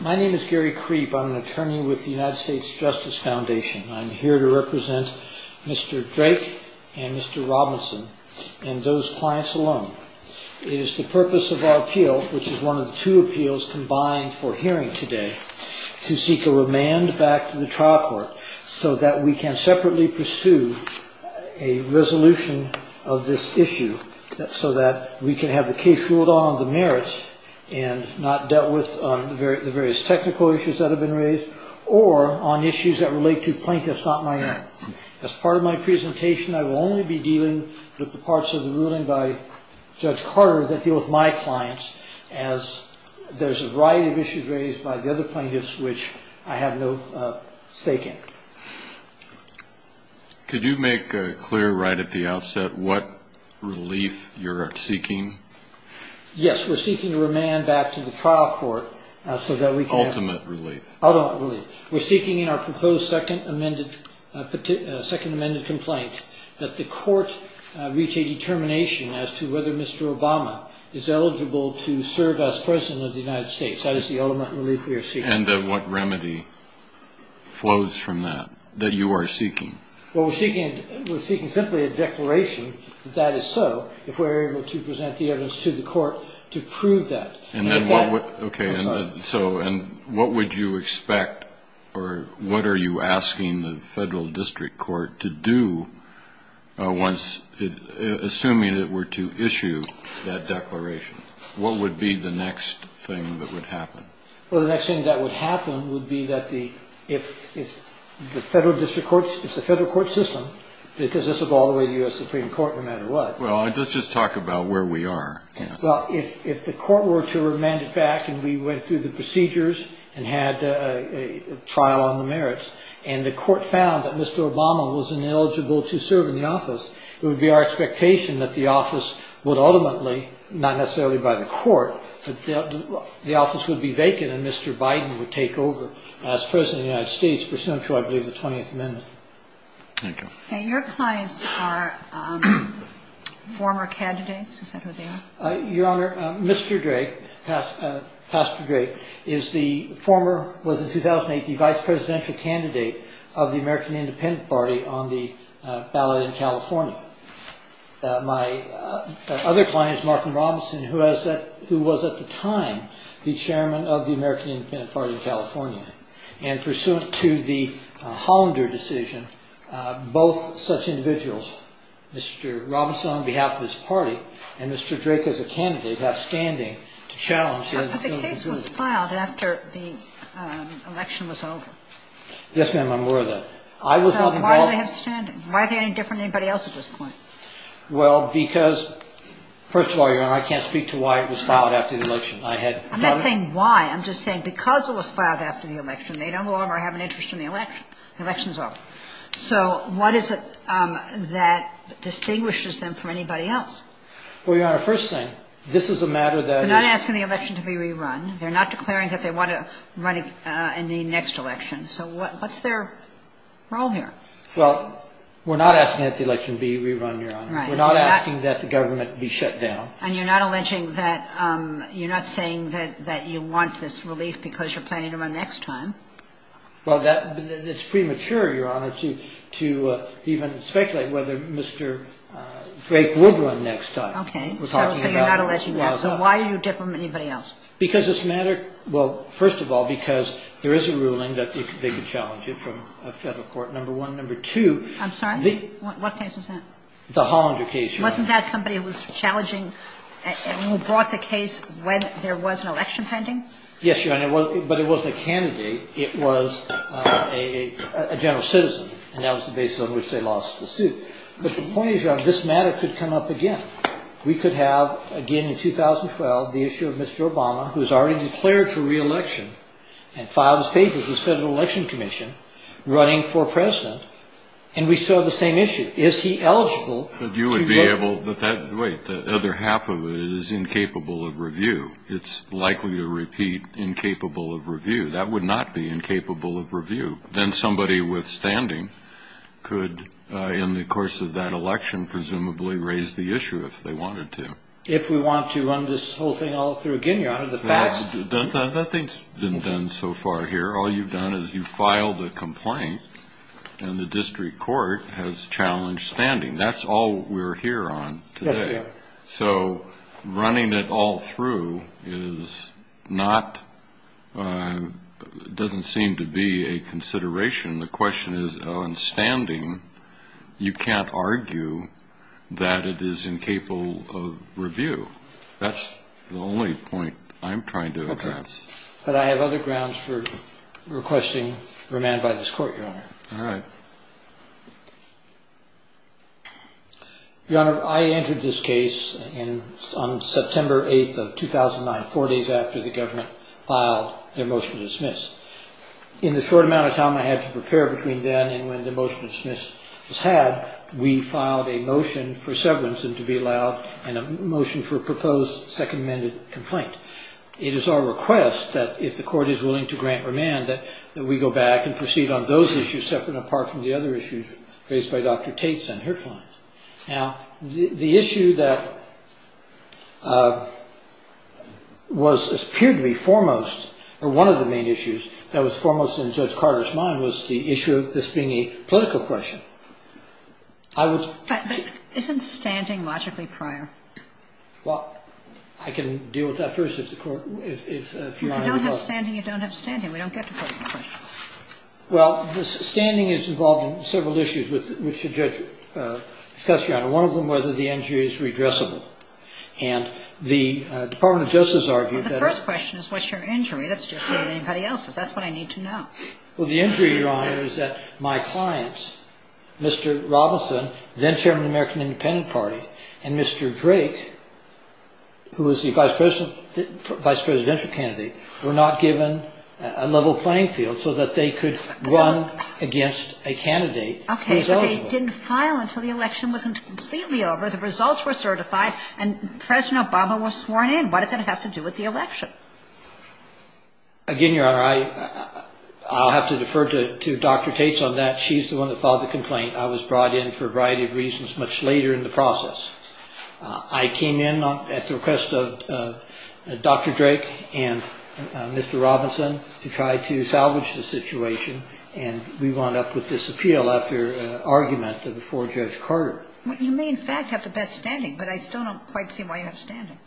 My name is Gary Kreepe. I'm an attorney with the United States Justice Foundation. I'm here to represent Mr. Drake and Mr. Robinson and those clients alone. It is the purpose of our appeal, which is one of the two appeals combined for hearing today, to seek a remand back to the trial court so that we can separately pursue a resolution of this issue so that we can have the case ruled on on the merits and not dealt with on the various technical issues that have been raised or on issues that relate to plaintiffs not minors. As part of my presentation, I will only be dealing with the parts of the ruling by Judge Carter that deal with my clients as there's a variety of issues raised by the other plaintiffs which I have no stake in. Could you make clear right at the outset what relief you're seeking? Yes, we're seeking a remand back to the trial court so that we can have ultimate relief. We're seeking in our proposed second amended complaint that the court reach a determination as to whether Mr. Obama is eligible to serve as President of the United States. What remedy flows from that that you are seeking? We're seeking simply a declaration that that is so if we're able to present the evidence to the court to prove that. What would you expect or what are you asking the federal district court to do assuming it were to issue that declaration? What would be the next thing that would happen? Well, the next thing that would happen would be that if the federal court system, because this would go all the way to the U.S. Supreme Court no matter what. Well, let's just talk about where we are. Well, if the court were to remand it back and we went through the procedures and had a trial on the merits and the court found that Mr. Obama was ineligible to serve in the office, it would be our expectation that the office would ultimately, not necessarily by the court, that the office would be vacant and Mr. Biden would take over as President of the United States, pursuant to I believe the 20th Amendment. Thank you. And your clients are former candidates? Is that who they are? Your Honor, Mr. Drake, Pastor Drake, is the former, was in 2008 the vice presidential candidate of the American Independent Party on the ballot in California. My other client is Martin Robinson, who was at the time the chairman of the American Independent Party in California. And pursuant to the Hollander decision, both such individuals, Mr. Robinson on behalf of his party and Mr. Drake as a candidate, have standing to challenge. But the case was filed after the election was over. Yes, ma'am, I'm aware of that. So why do they have standing? Why are they any different than anybody else at this point? Well, because, first of all, Your Honor, I can't speak to why it was filed after the election. I'm not saying why. I'm just saying because it was filed after the election, they don't belong or have an interest in the election. The election is over. So what is it that distinguishes them from anybody else? Well, Your Honor, first thing, this is a matter that is They're not asking the election to be rerun. They're not declaring that they want to run in the next election. So what's their role here? Well, we're not asking that the election be rerun, Your Honor. We're not asking that the government be shut down. And you're not alleging that you're not saying that you want this relief because you're planning to run next time? Well, that's premature, Your Honor, to even speculate whether Mr. Drake would run next time. Okay. So you're not alleging that. So why are you different from anybody else? Because this matter – well, first of all, because there is a ruling that they could challenge it from a Federal court, number one. Number two, the What case is that? The Hollander case, Your Honor. Wasn't that somebody who was challenging and who brought the case when there was an election pending? Yes, Your Honor. But it wasn't a candidate. It was a general citizen. And that was the basis on which they lost the suit. But the point is, Your Honor, this matter could come up again. We could have, again, in 2012, the issue of Mr. Obama, who's already declared for reelection and filed his papers with the Federal Election Commission, running for president. And we still have the same issue. Is he eligible to vote? You would be able – wait, the other half of it is incapable of review. It's likely to repeat incapable of review. That would not be incapable of review. Then somebody with standing could, in the course of that election, presumably raise the issue if they wanted to. If we want to run this whole thing all through again, Your Honor, the facts – Nothing's been done so far here. All you've done is you've filed a complaint, and the district court has challenged standing. That's all we're here on today. Yes, we are. So running it all through is not – doesn't seem to be a consideration. The question is, on standing, you can't argue that it is incapable of review. That's the only point I'm trying to address. Okay. But I have other grounds for requesting remand by this court, Your Honor. All right. Your Honor, I entered this case on September 8th of 2009, four days after the government filed their motion to dismiss. In the short amount of time I had to prepare between then and when the motion to dismiss was had, we filed a motion for severance and to be allowed, and a motion for a proposed second amended complaint. It is our request that if the court is willing to grant remand, that we go back and proceed on those issues separate and apart from the other issues raised by Dr. Tate and her clients. Now, the issue that was – appeared to be foremost, or one of the main issues that was foremost in Judge Carter's mind, was the issue of this being a political question. I would – But isn't standing logically prior? Well, I can deal with that first if the court – if Your Honor would allow it. If you don't have standing, you don't have standing. We don't get to political questions. Well, standing is involved in several issues which the judge discussed, Your Honor. One of them, whether the injury is redressable. And the Department of Justice argued that – Well, the first question is what's your injury? That's different than anybody else's. That's what I need to know. Well, the injury, Your Honor, is that my clients, Mr. Robinson, then chairman of the American Independent Party, and Mr. Drake, who was the vice presidential candidate, were not given a level playing field so that they could run against a candidate who was eligible. Okay, but they didn't file until the election wasn't completely over, the results were certified, and President Obama was sworn in. What does that have to do with the election? Again, Your Honor, I'll have to defer to Dr. Tate on that. She's the one that filed the complaint. I was brought in for a variety of reasons much later in the process. I came in at the request of Dr. Drake and Mr. Robinson to try to salvage the situation, and we wound up with this appeal after an argument before Judge Carter. You may, in fact, have the best standing, but I still don't quite see why you have standing.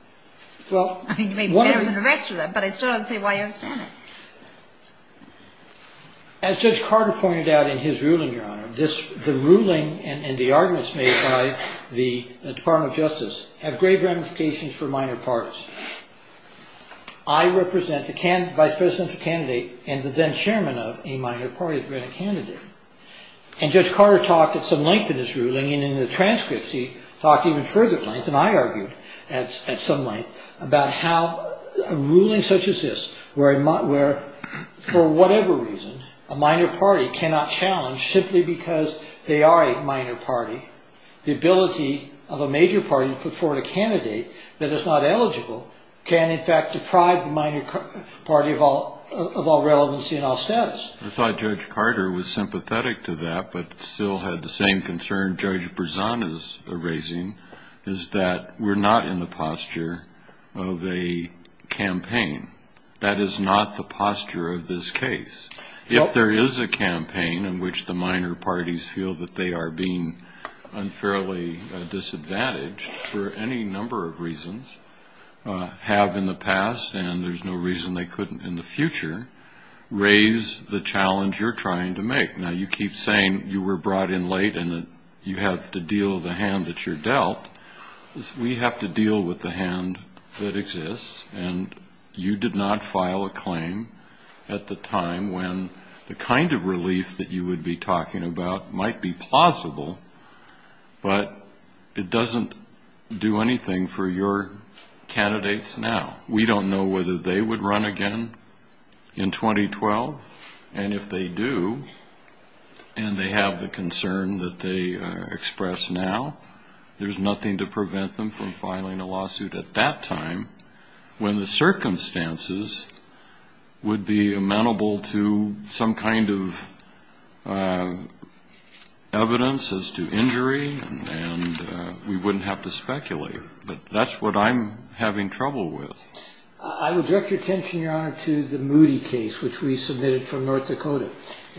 I mean, you may be better than the rest of them, but I still don't see why you have standing. As Judge Carter pointed out in his ruling, Your Honor, the ruling and the arguments made by the Department of Justice have grave ramifications for minor parties. I represent the vice presidential candidate and the then chairman of a minor party candidate, and Judge Carter talked at some length in his ruling, and in the transcripts he talked even further length, and I argued at some length about how a ruling such as this where, for whatever reason, a minor party cannot challenge simply because they are a minor party, the ability of a major party to put forward a candidate that is not eligible can, in fact, deprive the minor party of all relevancy and all status. I thought Judge Carter was sympathetic to that, but still had the same concern Judge Berzon is raising, is that we're not in the posture of a campaign. That is not the posture of this case. If there is a campaign in which the minor parties feel that they are being unfairly disadvantaged for any number of reasons, have in the past, and there's no reason they couldn't in the future, raise the challenge you're trying to make. Now, you keep saying you were brought in late and that you have to deal with the hand that you're dealt. We have to deal with the hand that exists, and you did not file a claim at the time when the kind of relief that you would be talking about might be plausible, but it doesn't do anything for your candidates now. We don't know whether they would run again in 2012, and if they do, and they have the concern that they express now, there's nothing to prevent them from filing a lawsuit at that time, when the circumstances would be amenable to some kind of evidence as to injury, and we wouldn't have to speculate. But that's what I'm having trouble with. I would direct your attention, Your Honor, to the Moody case, which we submitted from North Dakota,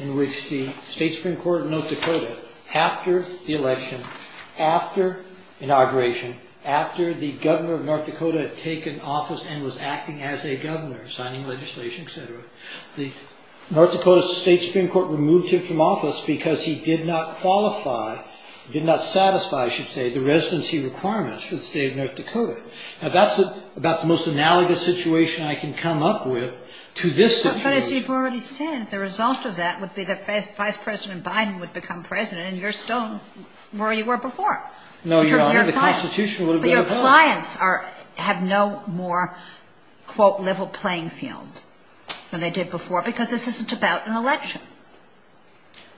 in which the State Supreme Court of North Dakota, after the election, after inauguration, after the governor of North Dakota had taken office and was acting as a governor, signing legislation, et cetera, the North Dakota State Supreme Court removed him from office because he did not qualify, did not satisfy, I should say, the residency requirements for the state of North Dakota. Now, that's about the most analogous situation I can come up with to this situation. But as you've already said, the result of that would be that Vice President Biden would become president, and you're still where you were before. No, Your Honor, the Constitution would have been a vote. But your clients have no more, quote, level playing field than they did before, because this isn't about an election.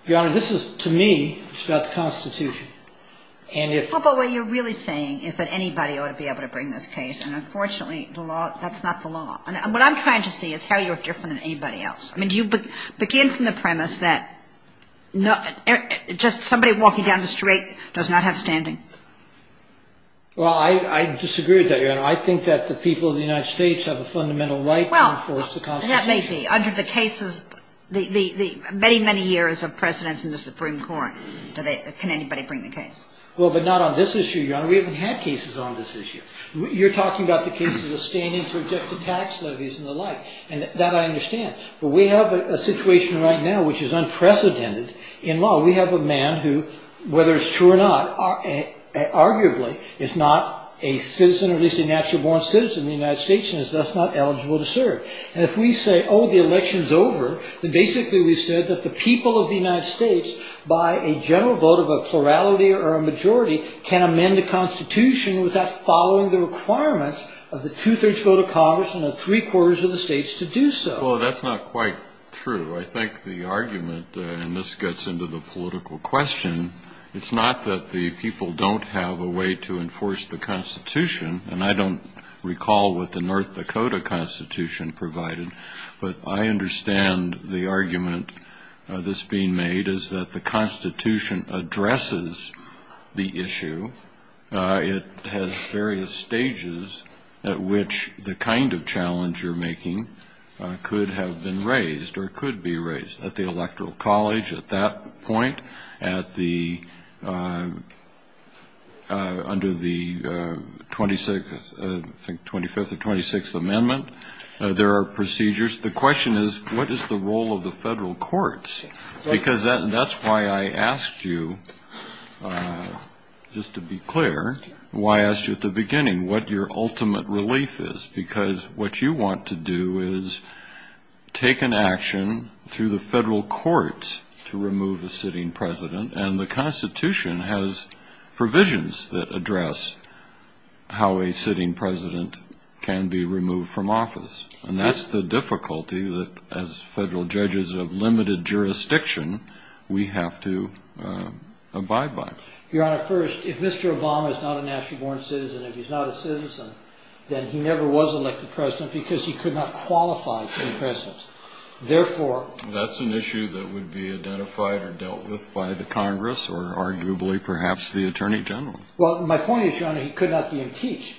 Your Honor, this is, to me, it's about the Constitution. But what you're really saying is that anybody ought to be able to bring this case, and unfortunately, that's not the law. And what I'm trying to see is how you're different than anybody else. I mean, do you begin from the premise that just somebody walking down the street does not have standing? Well, I disagree with that, Your Honor. I think that the people of the United States have a fundamental right to enforce the Constitution. Well, that may be. Under the cases, the many, many years of precedence in the Supreme Court, can anybody bring the case? Well, but not on this issue, Your Honor. We haven't had cases on this issue. You're talking about the cases of standing to object to tax levies and the like, and that I understand. But we have a situation right now which is unprecedented in law. We have a man who, whether it's true or not, arguably is not a citizen or at least a natural-born citizen of the United States and is thus not eligible to serve. And if we say, oh, the election's over, then basically we said that the people of the United States, by a general vote of a plurality or a majority, can amend the Constitution without following the requirements of the two-thirds vote of Congress and the three-quarters of the states to do so. Well, that's not quite true. I think the argument, and this gets into the political question, it's not that the people don't have a way to enforce the Constitution, and I don't recall what the North Dakota Constitution provided, but I understand the argument that's being made is that the Constitution addresses the issue. It has various stages at which the kind of challenge you're making could have been raised or could be raised at the electoral college at that point, under the 25th or 26th Amendment. There are procedures. The question is, what is the role of the federal courts? Because that's why I asked you, just to be clear, why I asked you at the beginning what your ultimate relief is, because what you want to do is take an action through the federal courts to remove a sitting president, and the Constitution has provisions that address how a sitting president can be removed from office. And that's the difficulty that, as federal judges of limited jurisdiction, we have to abide by. Your Honor, first, if Mr. Obama is not a nationally born citizen, if he's not a citizen, then he never was elected president because he could not qualify to be president. Therefore... That's an issue that would be identified or dealt with by the Congress, or arguably perhaps the Attorney General. Well, my point is, Your Honor, he could not be impeached.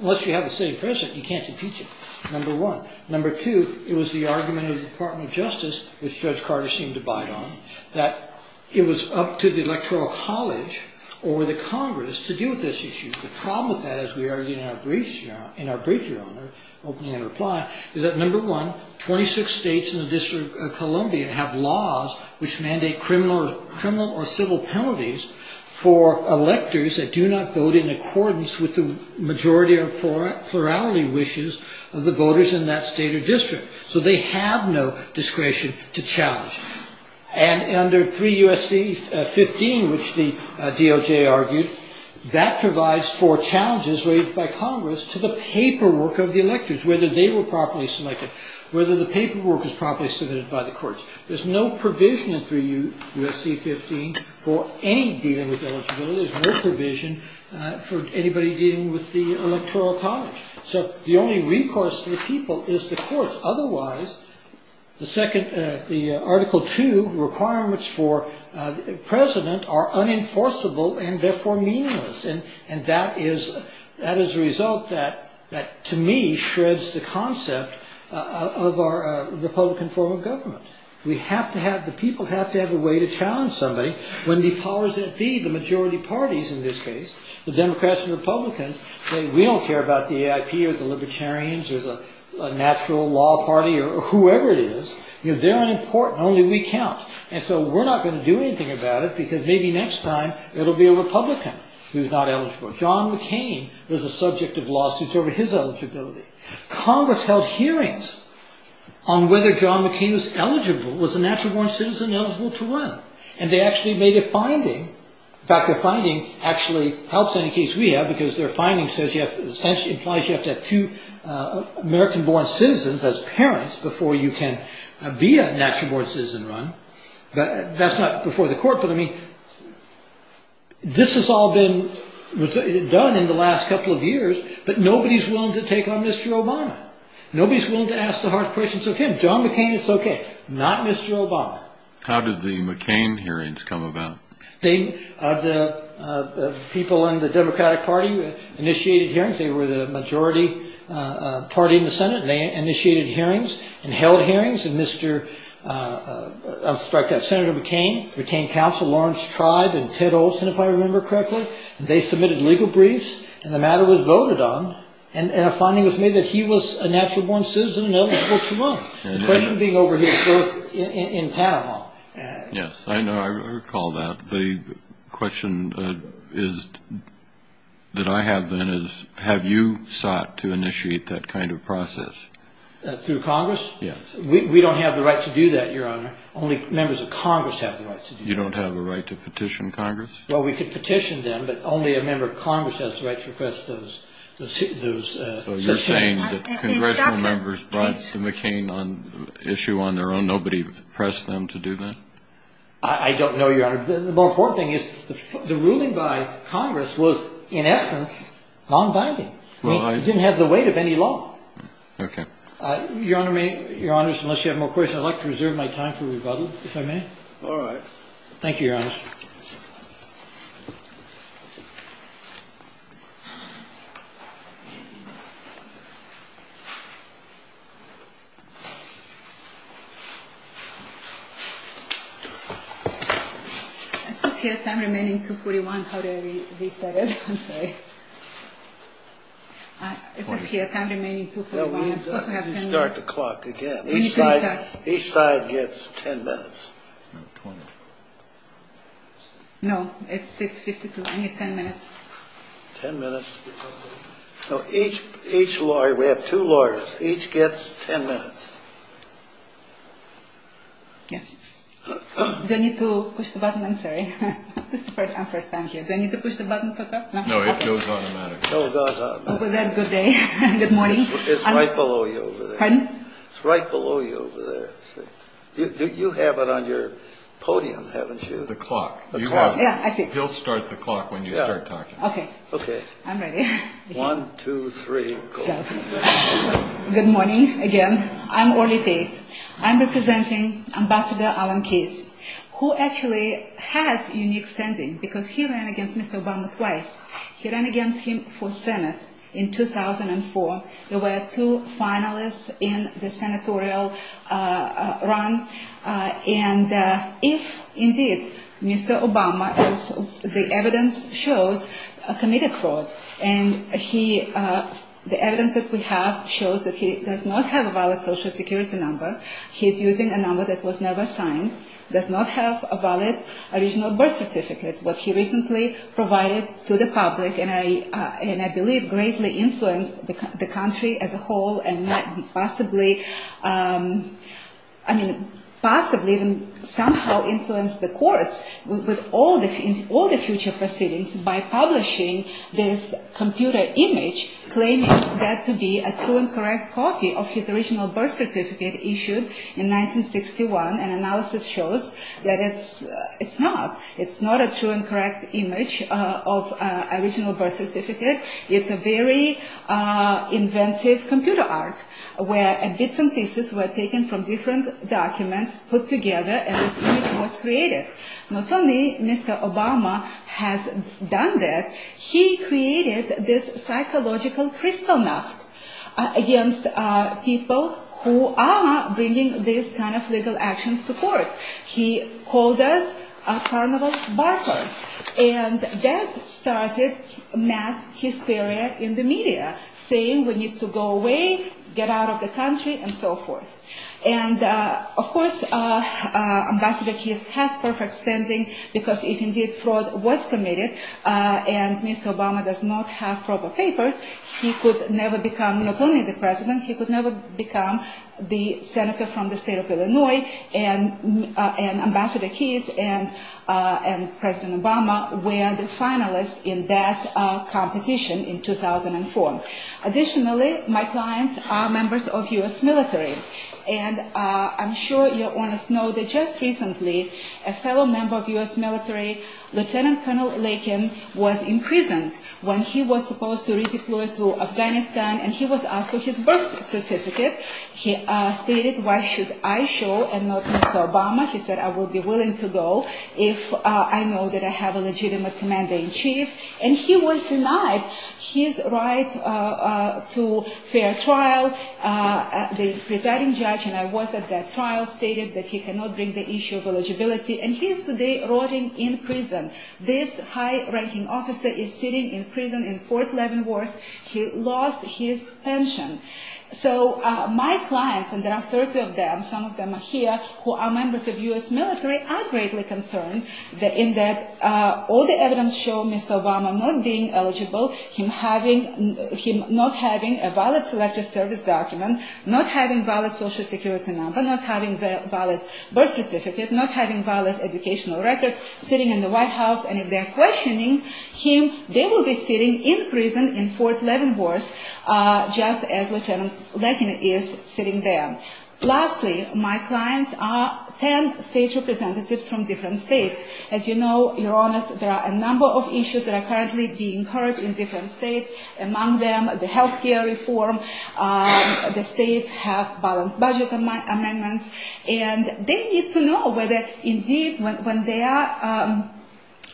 Unless you have a sitting president, you can't impeach him, number one. Number two, it was the argument of the Department of Justice, which Judge Carter seemed to bite on, that it was up to the electoral college or the Congress to deal with this issue. The problem with that, as we argued in our brief, Your Honor, opening in reply, is that, number one, 26 states in the District of Columbia have laws which mandate criminal or civil penalties for electors that do not vote in accordance with the majority or plurality wishes of the voters in that state or district. So they have no discretion to challenge. And under 3 U.S.C. 15, which the DOJ argued, that provides for challenges raised by Congress to the paperwork of the electors, whether they were properly selected, whether the paperwork was properly submitted by the courts. There's no provision in 3 U.S.C. 15 for any dealing with eligibility. There's no provision for anybody dealing with the electoral college. So the only recourse to the people is the courts. Otherwise, the Article 2 requirements for president are unenforceable and therefore meaningless. And that is a result that, to me, shreds the concept of our Republican form of government. We have to have, the people have to have a way to challenge somebody when the powers that be, the majority parties in this case, the Democrats and Republicans, say we don't care about the AIP or the Libertarians or the natural law party or whoever it is. They're unimportant. Only we count. And so we're not going to do anything about it because maybe next time it'll be a Republican who's not eligible. John McCain was a subject of lawsuits over his eligibility. Congress held hearings on whether John McCain was eligible, was a natural born citizen eligible to run. And they actually made a finding. In fact, their finding actually helps any case we have because their finding says you have to, essentially implies you have to have two American born citizens as parents before you can be a natural born citizen run. That's not before the court, but I mean, this has all been done in the last couple of years, but nobody's willing to take on Mr. Obama. Nobody's willing to ask the hard questions of him. John McCain, it's okay. Not Mr. Obama. How did the McCain hearings come about? The people in the Democratic Party initiated hearings. They were the majority party in the Senate. They initiated hearings and held hearings. And Mr. I'll strike that. Senator McCain retained counsel, Lawrence Tribe, and Ted Olson, if I remember correctly. They submitted legal briefs, and the matter was voted on. And a finding was made that he was a natural born citizen eligible to run. The question being over his birth in Panama. Yes, I know. I recall that. The question that I have, then, is have you sought to initiate that kind of process? Through Congress? Yes. We don't have the right to do that, Your Honor. Only members of Congress have the right to do that. You don't have a right to petition Congress? Well, we could petition them, but only a member of Congress has the right to request those. So you're saying that congressional members brought McCain on issue on their own. Nobody pressed them to do that? I don't know, Your Honor. The more important thing is the ruling by Congress was, in essence, non-binding. It didn't have the weight of any law. Okay. Your Honor, unless you have more questions, I'd like to reserve my time for rebuttal, if I may. All right. Thank you, Your Honor. It says here, time remaining 2.41. How do I reset it? I'm sorry. It says here, time remaining 2.41. I'm supposed to have 10 minutes. We need to start the clock again. We need to restart. Each side gets 10 minutes. No, 20. No, it's 6.52. I need 10 minutes. 10 minutes. No, each lawyer, we have two lawyers, each gets 10 minutes. Yes. Do I need to push the button? I'm sorry. This is my first time here. Do I need to push the button to talk? No, it goes automatic. Oh, it goes automatic. Well, then, good day. Good morning. It's right below you over there. Pardon? It's right below you over there. You have it on your podium, haven't you? The clock. The clock. Yeah, I see. You'll start the clock when you start talking. Okay. Okay. I'm ready. One, two, three, go. Good morning again. I'm Orly Gates. I'm representing Ambassador Alan Keyes, who actually has unique standing because he ran against Mr. Obama twice. He ran against him for Senate in 2004. There were two finalists in the senatorial run. And if, indeed, Mr. Obama, as the evidence shows, committed fraud, and the evidence that we have shows that he does not have a valid Social Security number, he's using a number that was never signed, does not have a valid original birth certificate. What he recently provided to the public, and I believe greatly influenced the country as a whole, and possibly even somehow influenced the courts with all the future proceedings by publishing this computer image, claiming that to be a true and correct copy of his original birth certificate issued in 1961. And analysis shows that it's not. It's not a true and correct image of original birth certificate. It's a very inventive computer art where bits and pieces were taken from different documents, put together, and this image was created. Not only Mr. Obama has done that, he created this psychological Kristallnacht against people who are bringing these kind of legal actions to court. He called us carnival barkers. And that started mass hysteria in the media, saying we need to go away, get out of the country, and so forth. And of course, Ambassador Keyes has perfect standing, because if indeed fraud was committed, and Mr. Obama does not have proper papers, he could never become not only the president, he could never become the senator from the state of Illinois, and Ambassador Keyes and President Obama were the finalists in that competition in 2004. Additionally, my clients are members of U.S. military. And I'm sure your owners know that just recently, a fellow member of U.S. military, Lieutenant Colonel Lakin, was imprisoned when he was supposed to redeploy to Afghanistan, and he was asked for his birth certificate. He stated, why should I show and not Mr. Obama? He said, I would be willing to go if I know that I have a legitimate commander-in-chief. And he was denied his right to fair trial. The presiding judge, and I was at that trial, stated that he cannot bring the issue of eligibility. And he is today rotting in prison. This high-ranking officer is sitting in prison in Fort Leavenworth. He lost his pension. So my clients, and there are 30 of them, some of them are here, who are members of U.S. military, are greatly concerned in that all the evidence shows Mr. Obama not being eligible, him not having a valid Selective Service document, not having a valid Social Security number, not having a valid birth certificate, not having valid educational records, sitting in the White House. And if they're questioning him, they will be sitting in prison in Fort Leavenworth, just as Lieutenant Lakin is sitting there. Lastly, my clients are 10 state representatives from different states. As you know, Your Honors, there are a number of issues that are currently being heard in different states. Among them, the health care reform, the states have balanced budget amendments, and they need to know whether indeed when they are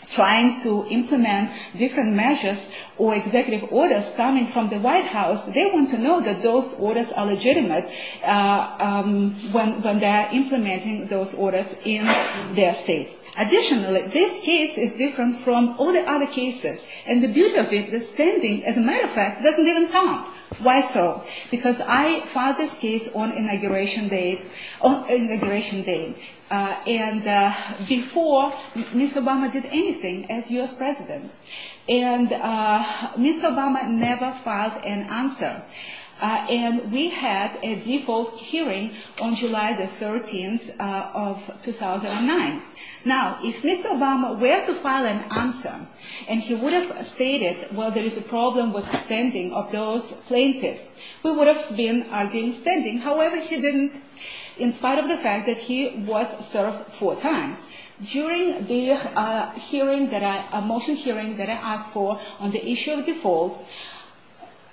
trying to implement different measures or executive orders coming from the White House, they want to know that those orders are legitimate. When they are implementing those orders in their states. Additionally, this case is different from all the other cases. And the beauty of it, the standing, as a matter of fact, doesn't even come up. Why so? Because I filed this case on Inauguration Day. And before, Mr. Obama did anything as U.S. President. And Mr. Obama never filed an answer. And we had a default hearing on July the 13th of 2009. Now, if Mr. Obama were to file an answer, and he would have stated, well, there is a problem with the standing of those plaintiffs, we would have been arguing standing. However, he didn't, in spite of the fact that he was served four times. During the hearing, the motion hearing that I asked for on the issue of default,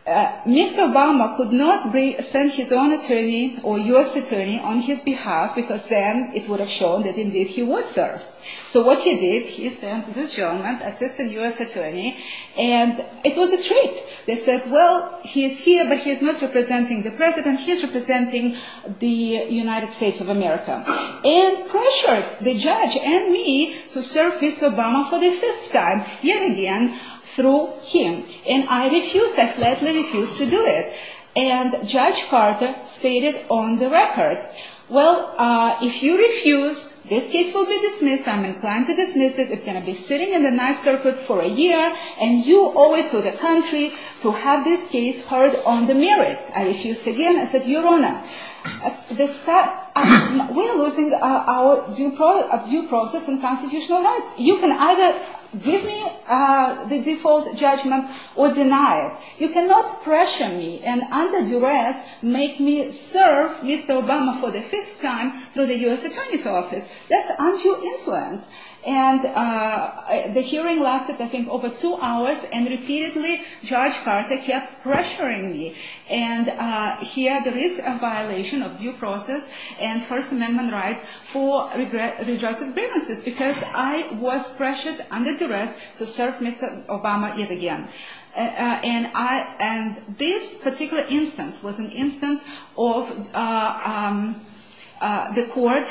Mr. Obama could not send his own attorney or U.S. attorney on his behalf, because then it would have shown that indeed he was served. So what he did, he sent this gentleman, assistant U.S. attorney, and it was a trick. They said, well, he is here, but he is not representing the President. He is representing the United States of America. And pressured the judge and me to serve Mr. Obama for the fifth time, yet again, through him. And I refused, I flatly refused to do it. And Judge Carter stated on the record, well, if you refuse, this case will be dismissed. I'm inclined to dismiss it. It's going to be sitting in the Ninth Circuit for a year, and you owe it to the country to have this case heard on the merits. I refused again. I said, Your Honor, we are losing our due process and constitutional rights. You can either give me the default judgment or deny it. You cannot pressure me and under duress make me serve Mr. Obama for the fifth time through the U.S. attorney's office. That's untrue influence. And the hearing lasted, I think, over two hours, and repeatedly Judge Carter kept pressuring me. And here there is a violation of due process and First Amendment right for redress of grievances because I was pressured under duress to serve Mr. Obama yet again. And this particular instance was an instance of the court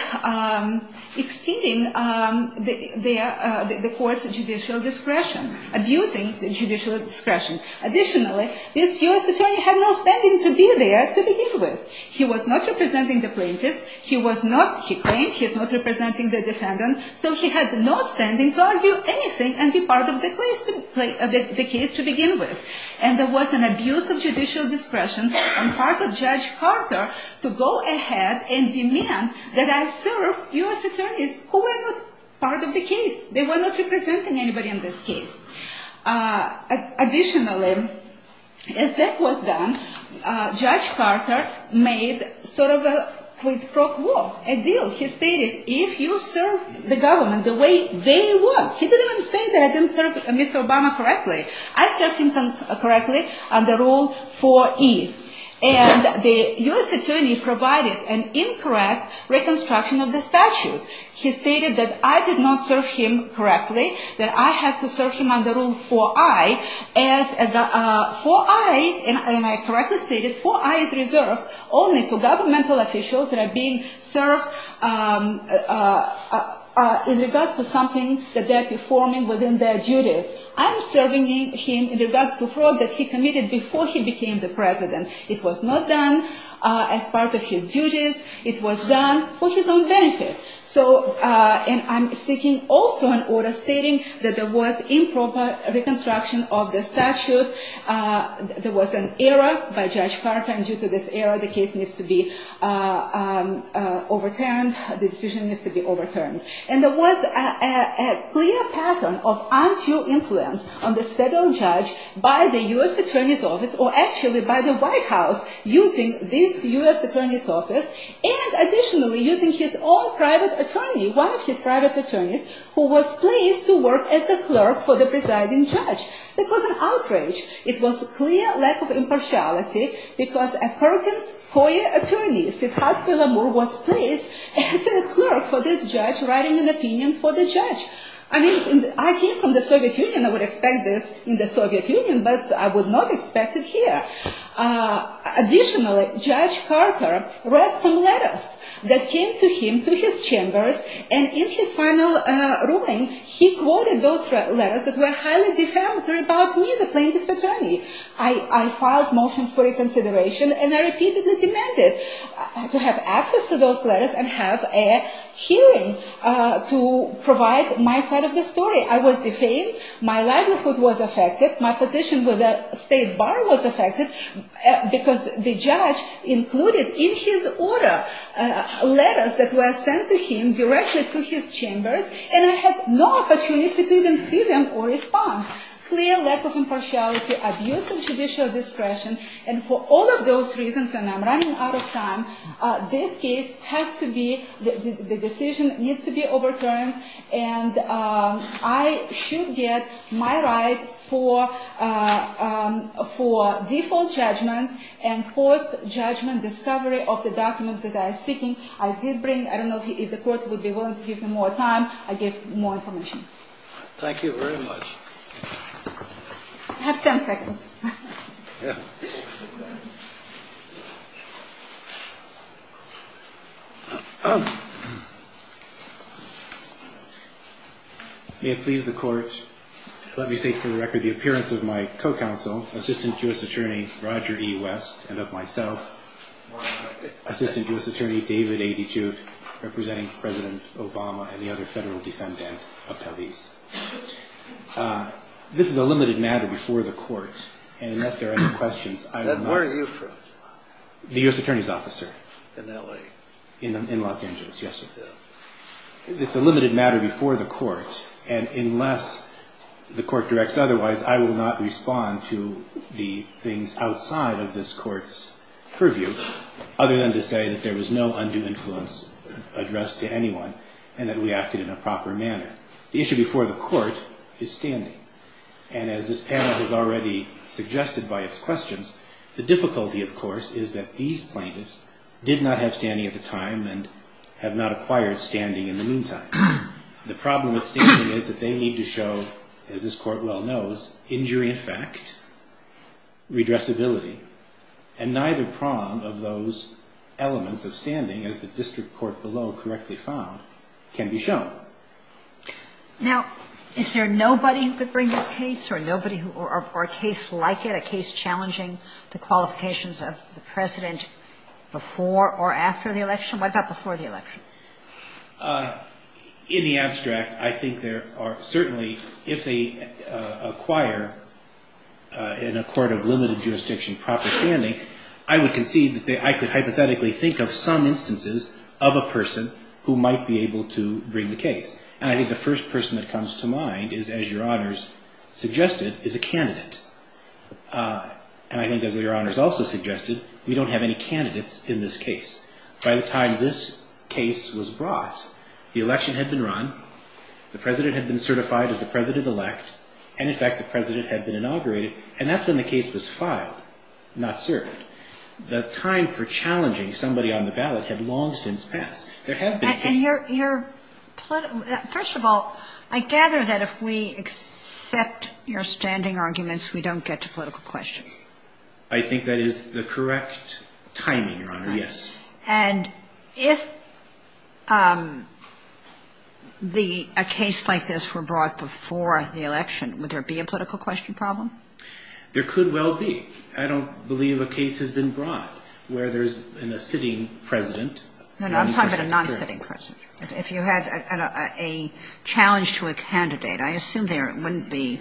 exceeding the court's judicial discretion, abusing the judicial discretion. Additionally, this U.S. attorney had no standing to be there to begin with. He was not representing the plaintiffs. He claimed he was not representing the defendant, so he had no standing to argue anything and be part of the case to begin with. And there was an abuse of judicial discretion on part of Judge Carter to go ahead and demand that I serve U.S. attorneys who were not part of the case. They were not representing anybody in this case. Additionally, as that was done, Judge Carter made sort of a quid pro quo, a deal. He stated, if you serve the government the way they want. He didn't even say that I didn't serve Mr. Obama correctly. I served him correctly under Rule 4E. And the U.S. attorney provided an incorrect reconstruction of the statute. He stated that I did not serve him correctly, that I had to serve him under Rule 4I. As 4I, and I correctly stated, 4I is reserved only to governmental officials that are being served in regards to something that they're performing within their duties. I'm serving him in regards to fraud that he committed before he became the president. It was done for his own benefit. And I'm seeking also an order stating that there was improper reconstruction of the statute. There was an error by Judge Carter, and due to this error, the case needs to be overturned. The decision needs to be overturned. And there was a clear pattern of untrue influence on this federal judge by the U.S. attorney's office, or actually by the White House, using this U.S. attorney's office, and additionally using his own private attorney, one of his private attorneys, who was placed to work as a clerk for the presiding judge. That was an outrage. It was a clear lack of impartiality because a Perkins-Coyer attorney, Sifat Kulamur, was placed as a clerk for this judge, writing an opinion for the judge. I mean, I came from the Soviet Union. I would expect this in the Soviet Union, but I would not expect it here. Additionally, Judge Carter read some letters that came to him, to his chambers, and in his final ruling, he quoted those letters that were highly defamatory about me, the plaintiff's attorney. I filed motions for reconsideration, and I repeatedly demanded to have access to those letters and have a hearing to provide my side of the story. I was defamed. My livelihood was affected. My position with the state bar was affected because the judge included in his order letters that were sent to him directly to his chambers, and I had no opportunity to even see them or respond. Clear lack of impartiality, abuse of judicial discretion, and for all of those reasons, and I'm running out of time, this case has to be, the decision needs to be overturned, and I should get my right for default judgment and post-judgment discovery of the documents that I am seeking. I did bring, I don't know if the court would be willing to give me more time. I gave more information. Thank you very much. I have 10 seconds. May it please the court, let me state for the record the appearance of my co-counsel, Assistant U.S. Attorney Roger E. West, and of myself, Assistant U.S. Attorney David A. DeJuke, representing President Obama and the other federal defendant, Apeliz. This is a limited matter before the court. Where are you from? The U.S. Attorney's Office, sir. In L.A. In Los Angeles, yes, sir. It's a limited matter before the court, and unless the court directs otherwise, I will not respond to the things outside of this court's purview, other than to say that there was no undue influence addressed to anyone and that we acted in a proper manner. The issue before the court is standing, and as this panel has already suggested by its questions, the difficulty, of course, is that these plaintiffs did not have standing at the time and have not acquired standing in the meantime. The problem with standing is that they need to show, as this court well knows, injury in fact, redressability, and neither prong of those elements of standing, as the district court below correctly found, can be shown. Now, is there nobody who could bring this case or a case like it, a case challenging the qualifications of the President before or after the election? What about before the election? In the abstract, I think there are certainly, if they acquire in a court of limited jurisdiction proper standing, I would concede that I could hypothetically think of some instances of a person who might be able to bring the case. And I think the first person that comes to mind is, as Your Honors suggested, is a candidate. And I think, as Your Honors also suggested, we don't have any candidates in this case. By the time this case was brought, the election had been run, the President had been certified as the President-elect, and in fact the President had been inaugurated, and that's when the case was filed, not served. The time for challenging somebody on the ballot had long since passed. There have been cases. And your – first of all, I gather that if we accept your standing arguments, we don't get to political question. I think that is the correct timing, Your Honor, yes. And if the – a case like this were brought before the election, would there be a political question problem? There could well be. I don't believe a case has been brought where there's a sitting President. No, no, I'm talking about a non-sitting President. If you had a challenge to a candidate, I assume there wouldn't be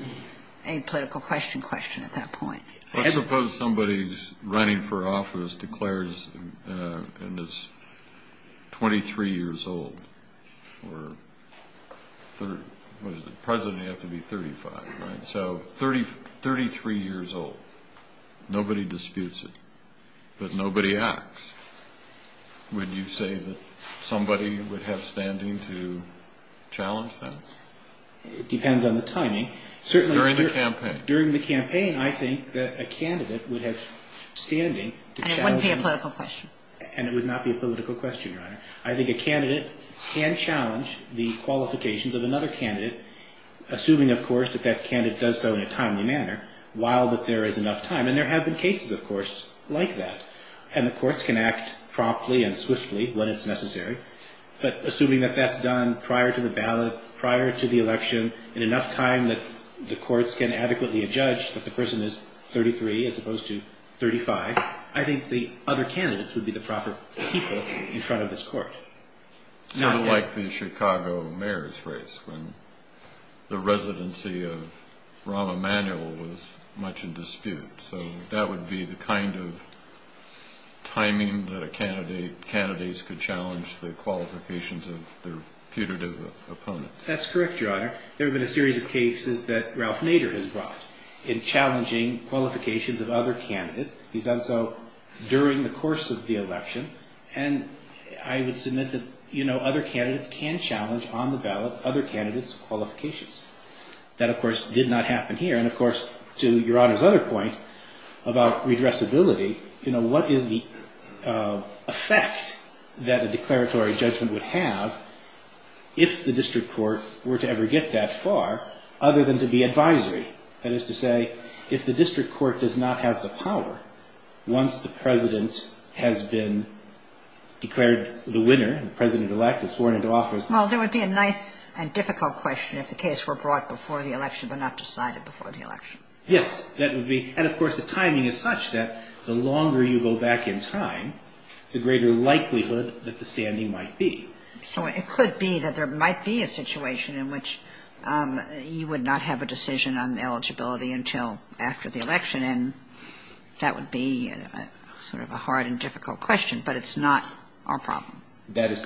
a political question question at that point. Let's suppose somebody's running for office, declares, and is 23 years old, or the President would have to be 35, right? So 33 years old. Nobody disputes it. But nobody acts. Would you say that somebody would have standing to challenge that? It depends on the timing. During the campaign. During the campaign, I think that a candidate would have standing to challenge them. And it wouldn't be a political question. And it would not be a political question, Your Honor. I think a candidate can challenge the qualifications of another candidate, assuming, of course, that that candidate does so in a timely manner, while there is enough time. And there have been cases, of course, like that. And the courts can act promptly and swiftly when it's necessary. But assuming that that's done prior to the ballot, prior to the election, in enough time that the courts can adequately adjudge that the person is 33 as opposed to 35, I think the other candidates would be the proper people in front of this court. Sort of like the Chicago mayor's race, when the residency of Rahm Emanuel was much in dispute. So that would be the kind of timing that candidates could challenge the qualifications of their putative opponents. That's correct, Your Honor. There have been a series of cases that Ralph Nader has brought in challenging qualifications of other candidates. He's done so during the course of the election. And I would submit that other candidates can challenge on the ballot other candidates' qualifications. That, of course, did not happen here. And, of course, to Your Honor's other point about redressability, what is the effect that a declaratory judgment would have if the district court were to ever get that far, other than to be advisory? That is to say, if the district court does not have the power, once the president has been declared the winner, the president-elect is sworn into office. Well, there would be a nice and difficult question if the case were brought before the election but not decided before the election. Yes, that would be. And, of course, the timing is such that the longer you go back in time, the greater likelihood that the standing might be. So it could be that there might be a situation in which you would not have a decision on eligibility until after the election. And that would be sort of a hard and difficult question. But it's not our problem. That is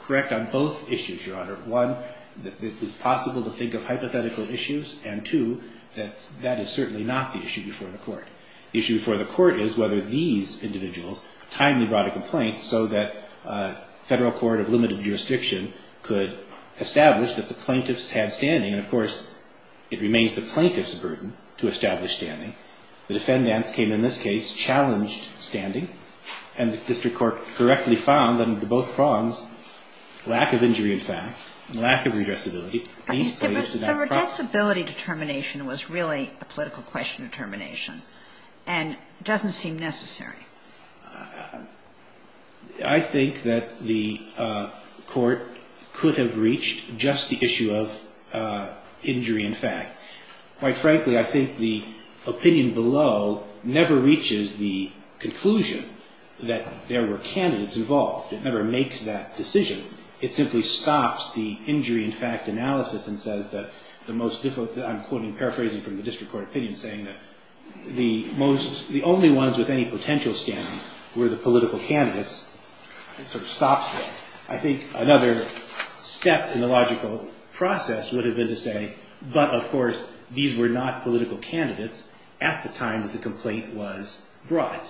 correct on both issues, Your Honor. One, it is possible to think of hypothetical issues. And, two, that is certainly not the issue before the court. The issue before the court is whether these individuals timely brought a complaint so that a federal court of limited jurisdiction could establish that the plaintiffs had standing. And, of course, it remains the plaintiff's burden to establish standing. The defendants came in this case, challenged standing. And the district court correctly found that under both prongs, lack of injury in fact and lack of redressability, these plaintiffs did not have a problem. But the redressability determination was really a political question determination and doesn't seem necessary. I think that the court could have reached just the issue of injury in fact. Quite frankly, I think the opinion below never reaches the conclusion that there were candidates involved. It never makes that decision. It simply stops the injury in fact analysis and says that the most difficult, I'm quoting, paraphrasing from the district court opinion, saying that the most, the only ones with any potential standing were the political candidates. It sort of stops that. I think another step in the logical process would have been to say, but, of course, these were not political candidates at the time that the complaint was brought.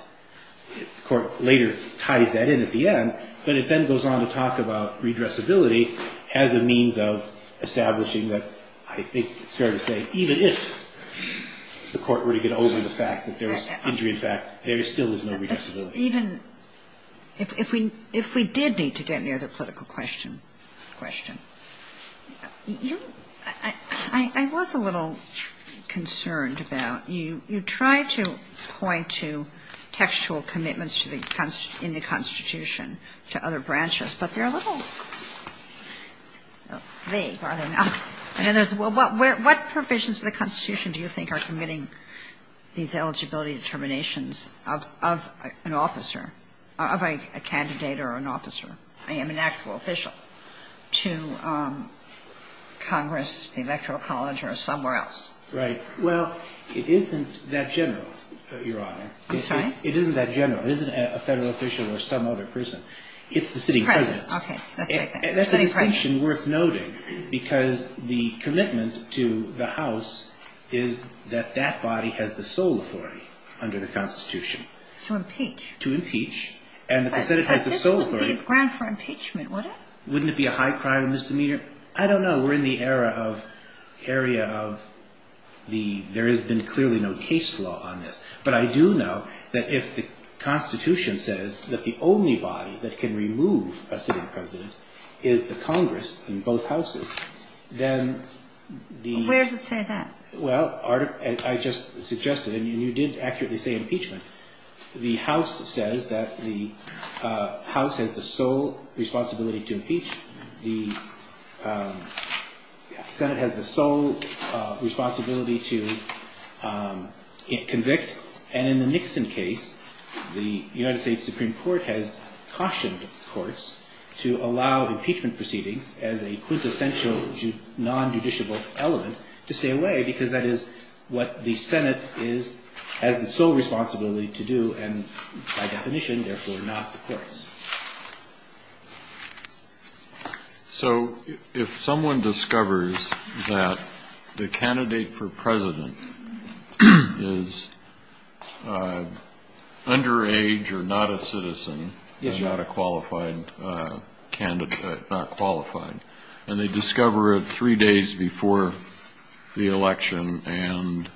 The court later ties that in at the end. But it then goes on to talk about redressability as a means of establishing that, I think it's fair to say, even if the court were to get over the fact that there was injury in fact, there still is no redressability. If we did need to get near the political question, I was a little concerned about, you try to point to textual commitments in the Constitution to other branches, but they're a little vague, are they not? In other words, what provisions of the Constitution do you think are committing these eligibility determinations of an officer, of a candidate or an officer? I am an actual official to Congress, the Electoral College, or somewhere else. Right. Well, it isn't that general, Your Honor. I'm sorry? It isn't that general. It isn't a Federal official or some other person. It's the sitting President. Okay. Let's take that. That's a distinction worth noting, because the commitment to the House is that that body has the sole authority under the Constitution. To impeach. To impeach. And that the Senate has the sole authority. But this would be a ground for impeachment, wouldn't it? Wouldn't it be a high crime and misdemeanor? I don't know. We're in the area of the, there has been clearly no case law on this. But I do know that if the Constitution says that the only body that can remove a sitting President is the Congress in both houses, then the. Where does it say that? Well, I just suggested, and you did accurately say impeachment. The House says that the House has the sole responsibility to impeach. The Senate has the sole responsibility to convict. And in the Nixon case, the United States Supreme Court has cautioned courts to allow impeachment proceedings as a quintessential non-judiciable element to stay away, because that is what the Senate has the sole responsibility to do, and by definition, therefore, not the courts. So if someone discovers that the candidate for President is underage or not a citizen. Yes, sir. And they discover it three days before the election, and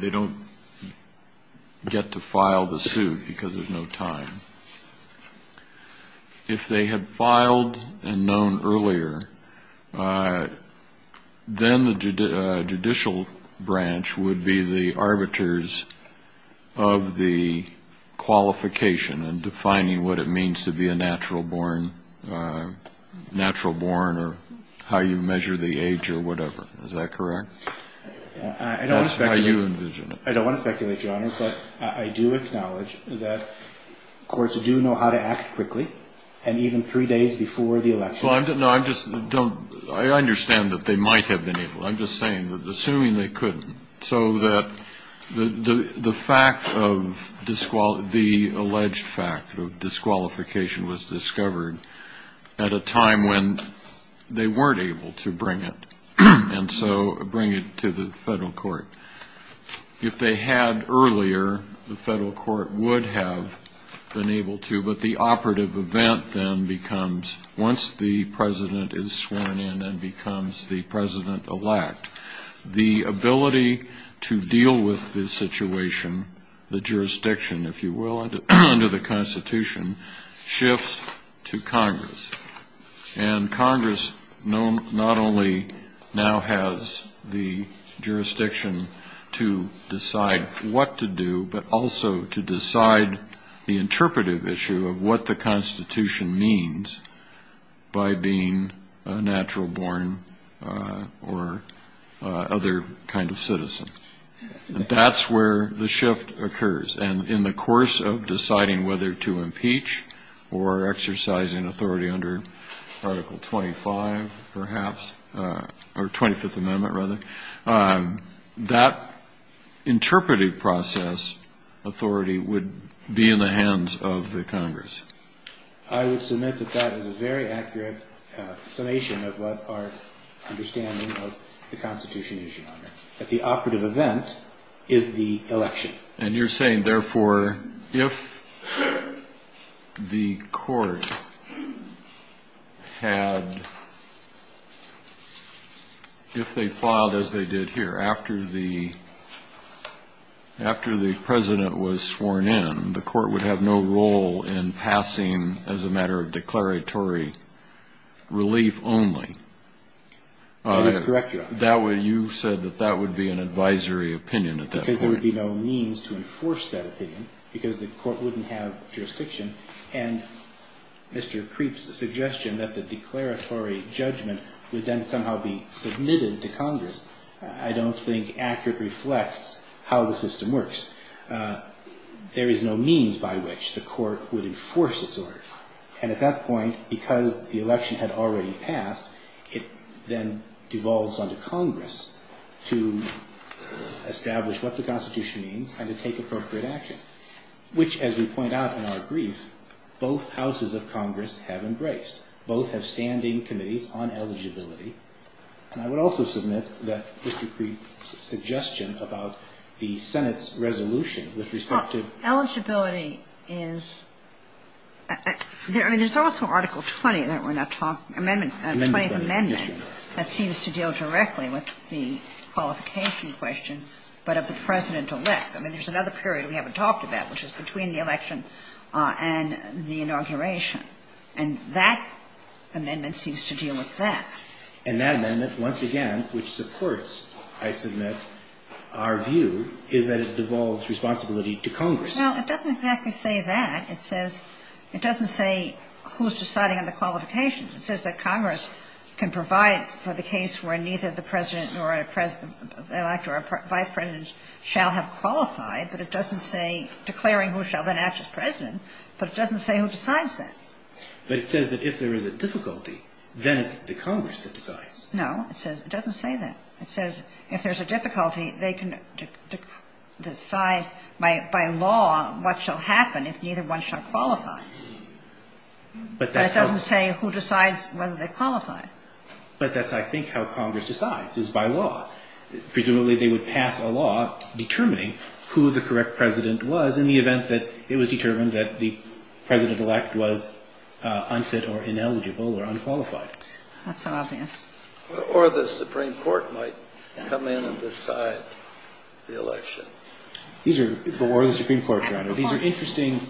they don't get to file the suit because there's no time. If they had filed and known earlier, then the judicial branch would be the arbiters of the qualification and defining what it means to be a natural born or how you measure the age or whatever. Is that correct? That's how you envision it. I don't want to speculate, Your Honor, but I do acknowledge that courts do know how to act quickly, and even three days before the election. No, I just don't. I understand that they might have been able. I'm just saying that assuming they couldn't, so that the fact of the alleged fact of disqualification was discovered at a time when they weren't able to bring it, and so bring it to the federal court. If they had earlier, the federal court would have been able to, but the operative event then becomes once the president is sworn in and becomes the president-elect. The ability to deal with this situation, the jurisdiction, if you will, under the Constitution, shifts to Congress. And Congress not only now has the jurisdiction to decide what to do, but also to decide the interpretive issue of what the Constitution means by being a natural born or other kind of citizen. That's where the shift occurs. And in the course of deciding whether to impeach or exercising authority under Article 25, perhaps, or 25th Amendment, rather, that interpretive process authority would be in the hands of the Congress. I would submit that that is a very accurate summation of what our understanding of the Constitution is, Your Honor, that the operative event is the election. And you're saying, therefore, if the court had, if they filed as they did here, after the president was sworn in, the court would have no role in passing as a matter of declaratory relief only. That is correct, Your Honor. You said that that would be an advisory opinion at that point. Because there would be no means to enforce that opinion, because the court wouldn't have jurisdiction. And Mr. Creep's suggestion that the declaratory judgment would then somehow be submitted to Congress, I don't think accurately reflects how the system works. There is no means by which the court would enforce its order. And at that point, because the election had already passed, it then devolves onto Congress to establish what the Constitution means and to take appropriate action, which, as we point out in our brief, both houses of Congress have embraced. Both have standing committees on eligibility. And I would also submit that Mr. Creep's suggestion about the Senate's resolution with respect to ---- Eligibility is ---- I mean, there's also Article 20 that we're not talking about. Amendment. Amendment. That seems to deal directly with the qualification question, but of the president-elect. I mean, there's another period we haven't talked about, which is between the election and the inauguration. And that amendment seems to deal with that. And that amendment, once again, which supports, I submit, our view, is that it devolves responsibility to Congress. Well, it doesn't exactly say that. It says ---- it doesn't say who's deciding on the qualifications. It says that Congress can provide for the case where neither the president nor a president-elect or a vice president shall have qualified. But it doesn't say declaring who shall then act as president. But it doesn't say who decides that. But it says that if there is a difficulty, then it's the Congress that decides. No. It doesn't say that. It says if there's a difficulty, they can decide by law what shall happen if neither one shall qualify. But that's how ---- But it doesn't say who decides whether they qualify. But that's, I think, how Congress decides, is by law. Presumably, they would pass a law determining who the correct president was in the event that it was determined that the president-elect was unfit or ineligible or unqualified. That's so obvious. Or the Supreme Court might come in and decide the election. These are ---- Or the Supreme Court, Your Honor. These are interesting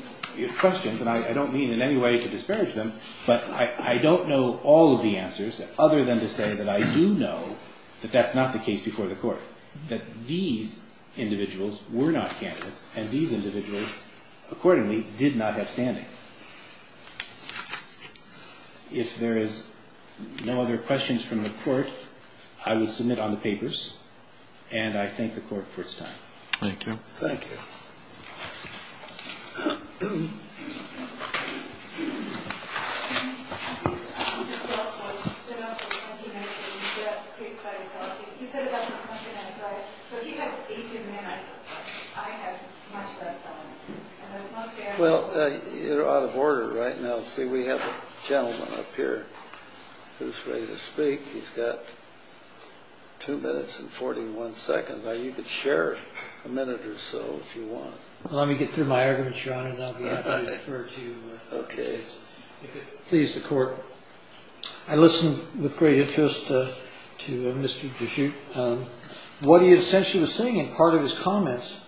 questions. And I don't mean in any way to disparage them. But I don't know all of the answers other than to say that I do know that that's not the case before the Court, that these individuals were not candidates. And these individuals, accordingly, did not have standing. If there is no other questions from the Court, I will submit on the papers. And I thank the Court for its time. Thank you. Thank you. Well, you're out of order right now. See, we have a gentleman up here who's ready to speak. He's got two minutes and 41 seconds. You could share a minute or so if you want. Let me get through my arguments, Your Honor, and I'll be happy to refer to you. Okay. If it pleases the Court, I listened with great interest to Mr. Gershoot. What he essentially was saying in part of his comments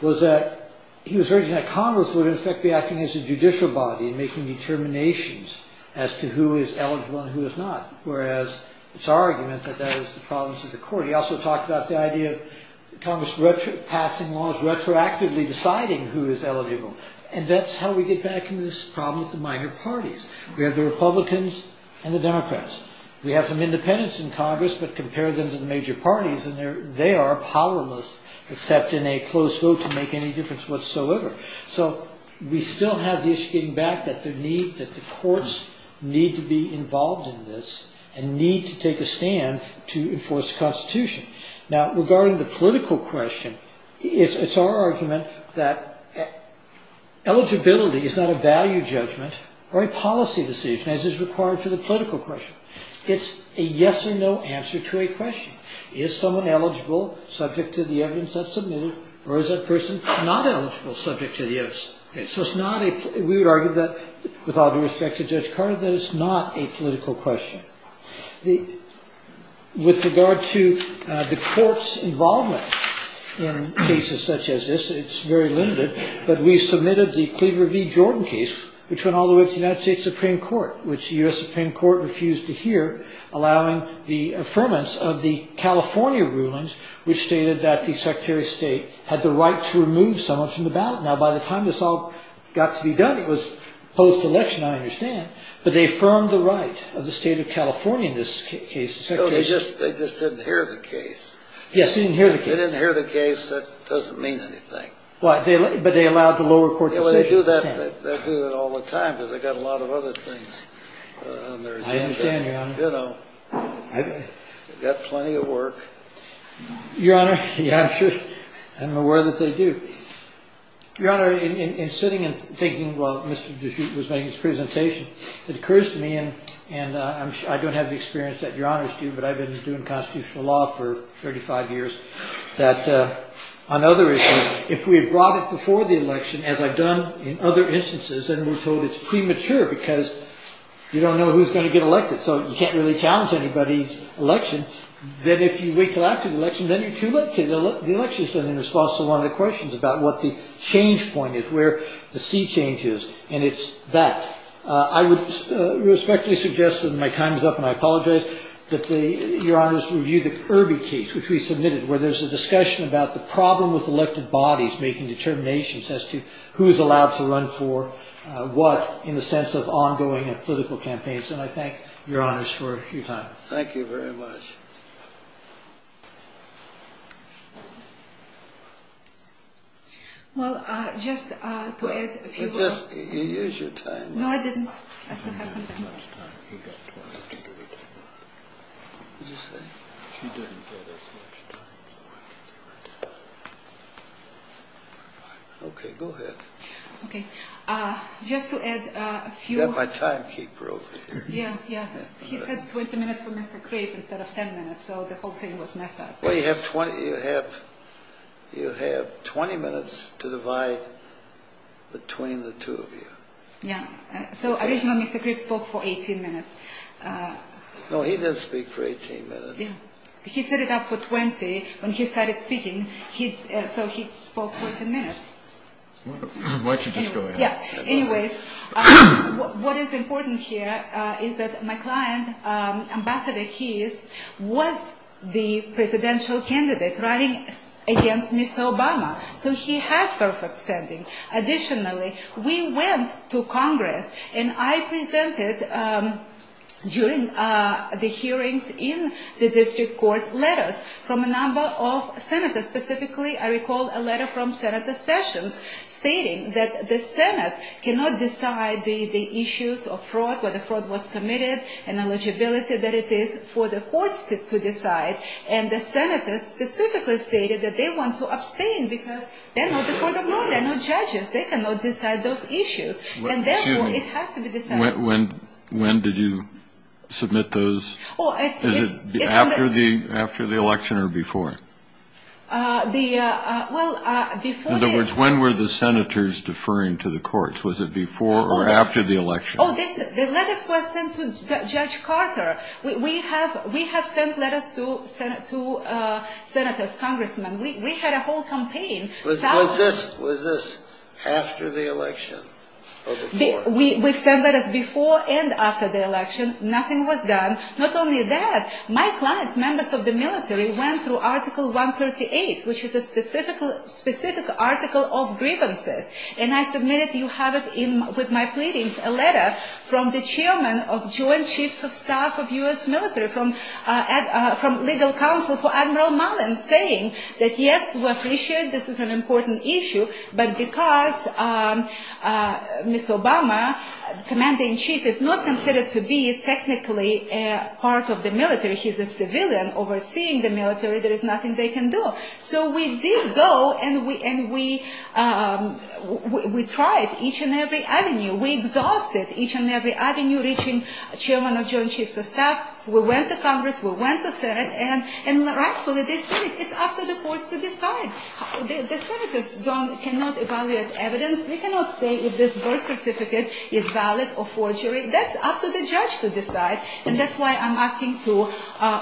was that he was urging that Congress would, in effect, be acting as a judicial body, making determinations as to who is eligible and who is not, whereas it's our argument that that is the problem with the Court. He also talked about the idea of Congress passing laws retroactively deciding who is eligible. And that's how we get back into this problem with the minor parties. We have the Republicans and the Democrats. We have some independents in Congress, but compare them to the major parties, and they are powerless except in a close vote to make any difference whatsoever. So we still have the issue getting back that the courts need to be involved in this and need to take a stand to enforce the Constitution. Now, regarding the political question, it's our argument that eligibility is not a value judgment or a policy decision, as is required for the political question. It's a yes or no answer to a question. Is someone eligible subject to the evidence that's submitted, or is that person not eligible subject to the evidence? So it's not a – we would argue that, with all due respect to Judge Carter, that it's not a political question. With regard to the Court's involvement in cases such as this, it's very limited, but we submitted the Cleaver v. Jordan case, which went all the way up to the United States Supreme Court, which the U.S. Supreme Court refused to hear, allowing the affirmance of the California rulings, which stated that the Secretary of State had the right to remove someone from the ballot. Now, by the time this all got to be done, it was post-election, I understand, but they affirmed the right of the State of California in this case. No, they just didn't hear the case. Yes, they didn't hear the case. They didn't hear the case. That doesn't mean anything. But they allowed the lower court decision. They do that all the time because they've got a lot of other things on their agenda. I understand, Your Honor. You know, they've got plenty of work. Your Honor, I'm sure – I'm aware that they do. Your Honor, in sitting and thinking while Mr. Deschute was making his presentation, it occurs to me, and I don't have the experience that Your Honors do, but I've been doing constitutional law for 35 years, that on other issues, if we had brought it before the election, as I've done in other instances, then we're told it's premature because you don't know who's going to get elected. So you can't really challenge anybody's election. Then if you wait until after the election, then you're too late. The election is done in response to one of the questions about what the change point is, where the sea change is, and it's that. I would respectfully suggest that my time is up, and I apologize, that Your Honors review the Irby case, which we submitted, where there's a discussion about the problem with elected bodies making determinations as to who's allowed to run for what in the sense of ongoing political campaigns. And I thank Your Honors for your time. Thank you very much. Well, just to add a few words. You used your time. No, I didn't. She didn't have as much time. She got 22 minutes. What did you say? She didn't get as much time. Okay. Go ahead. Okay. Just to add a few. I've got my timekeeper over here. Yeah, yeah. He said 20 minutes for Mr. Crape instead of 10 minutes, so the whole thing was messed up. Well, you have 20 minutes to divide between the two of you. Yeah. So, originally Mr. Crape spoke for 18 minutes. No, he didn't speak for 18 minutes. Yeah. He set it up for 20 when he started speaking, so he spoke for 10 minutes. Why don't you just go ahead. Yeah. Anyways, what is important here is that my client, Ambassador Keyes, was the presidential candidate running against Mr. Obama, so he had perfect standing. Additionally, we went to Congress, and I presented during the hearings in the district court letters from a number of senators. Specifically, I recall a letter from Senator Sessions stating that the Senate cannot decide the issues of fraud, whether fraud was committed, and eligibility that it is for the courts to decide. And the senators specifically stated that they want to abstain because they're not the court of law. They're not judges. They cannot decide those issues. And therefore, it has to be decided. When did you submit those? Is it after the election or before? In other words, when were the senators deferring to the courts? Was it before or after the election? The letters were sent to Judge Carter. We have sent letters to senators, congressmen. We had a whole campaign. Was this after the election or before? We sent letters before and after the election. Nothing was done. Not only that, my clients, members of the military, went through Article 138, which is a specific article of grievances. And I submitted, you have it with my pleadings, a letter from the chairman of Joint Chiefs of Staff of U.S. military, from legal counsel for Admiral Mullen, saying that, yes, we appreciate this is an important issue, but because Mr. Obama, the commanding chief, is not considered to be technically part of the military. He's a civilian overseeing the military. There is nothing they can do. So we did go, and we tried each and every avenue. We exhausted each and every avenue, reaching chairman of Joint Chiefs of Staff. We went to Congress. We went to Senate. And rightfully, it's up to the courts to decide. The senators cannot evaluate evidence. They cannot say if this birth certificate is valid or forgery. That's up to the judge to decide. And that's why I'm asking to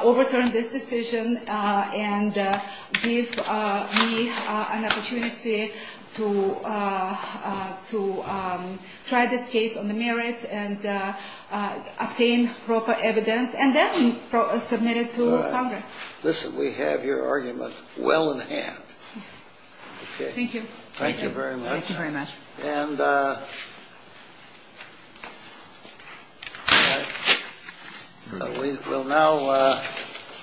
overturn this decision and give me an opportunity to try this case on the merits and obtain proper evidence, and then submit it to Congress. Listen, we have your argument well in hand. Okay. Thank you. Thank you very much. Thank you very much. And we will now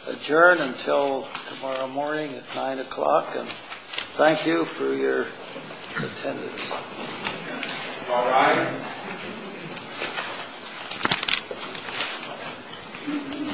adjourn until tomorrow morning at 9 o'clock. And thank you for your attendance. All rise. Thank you. Thank you.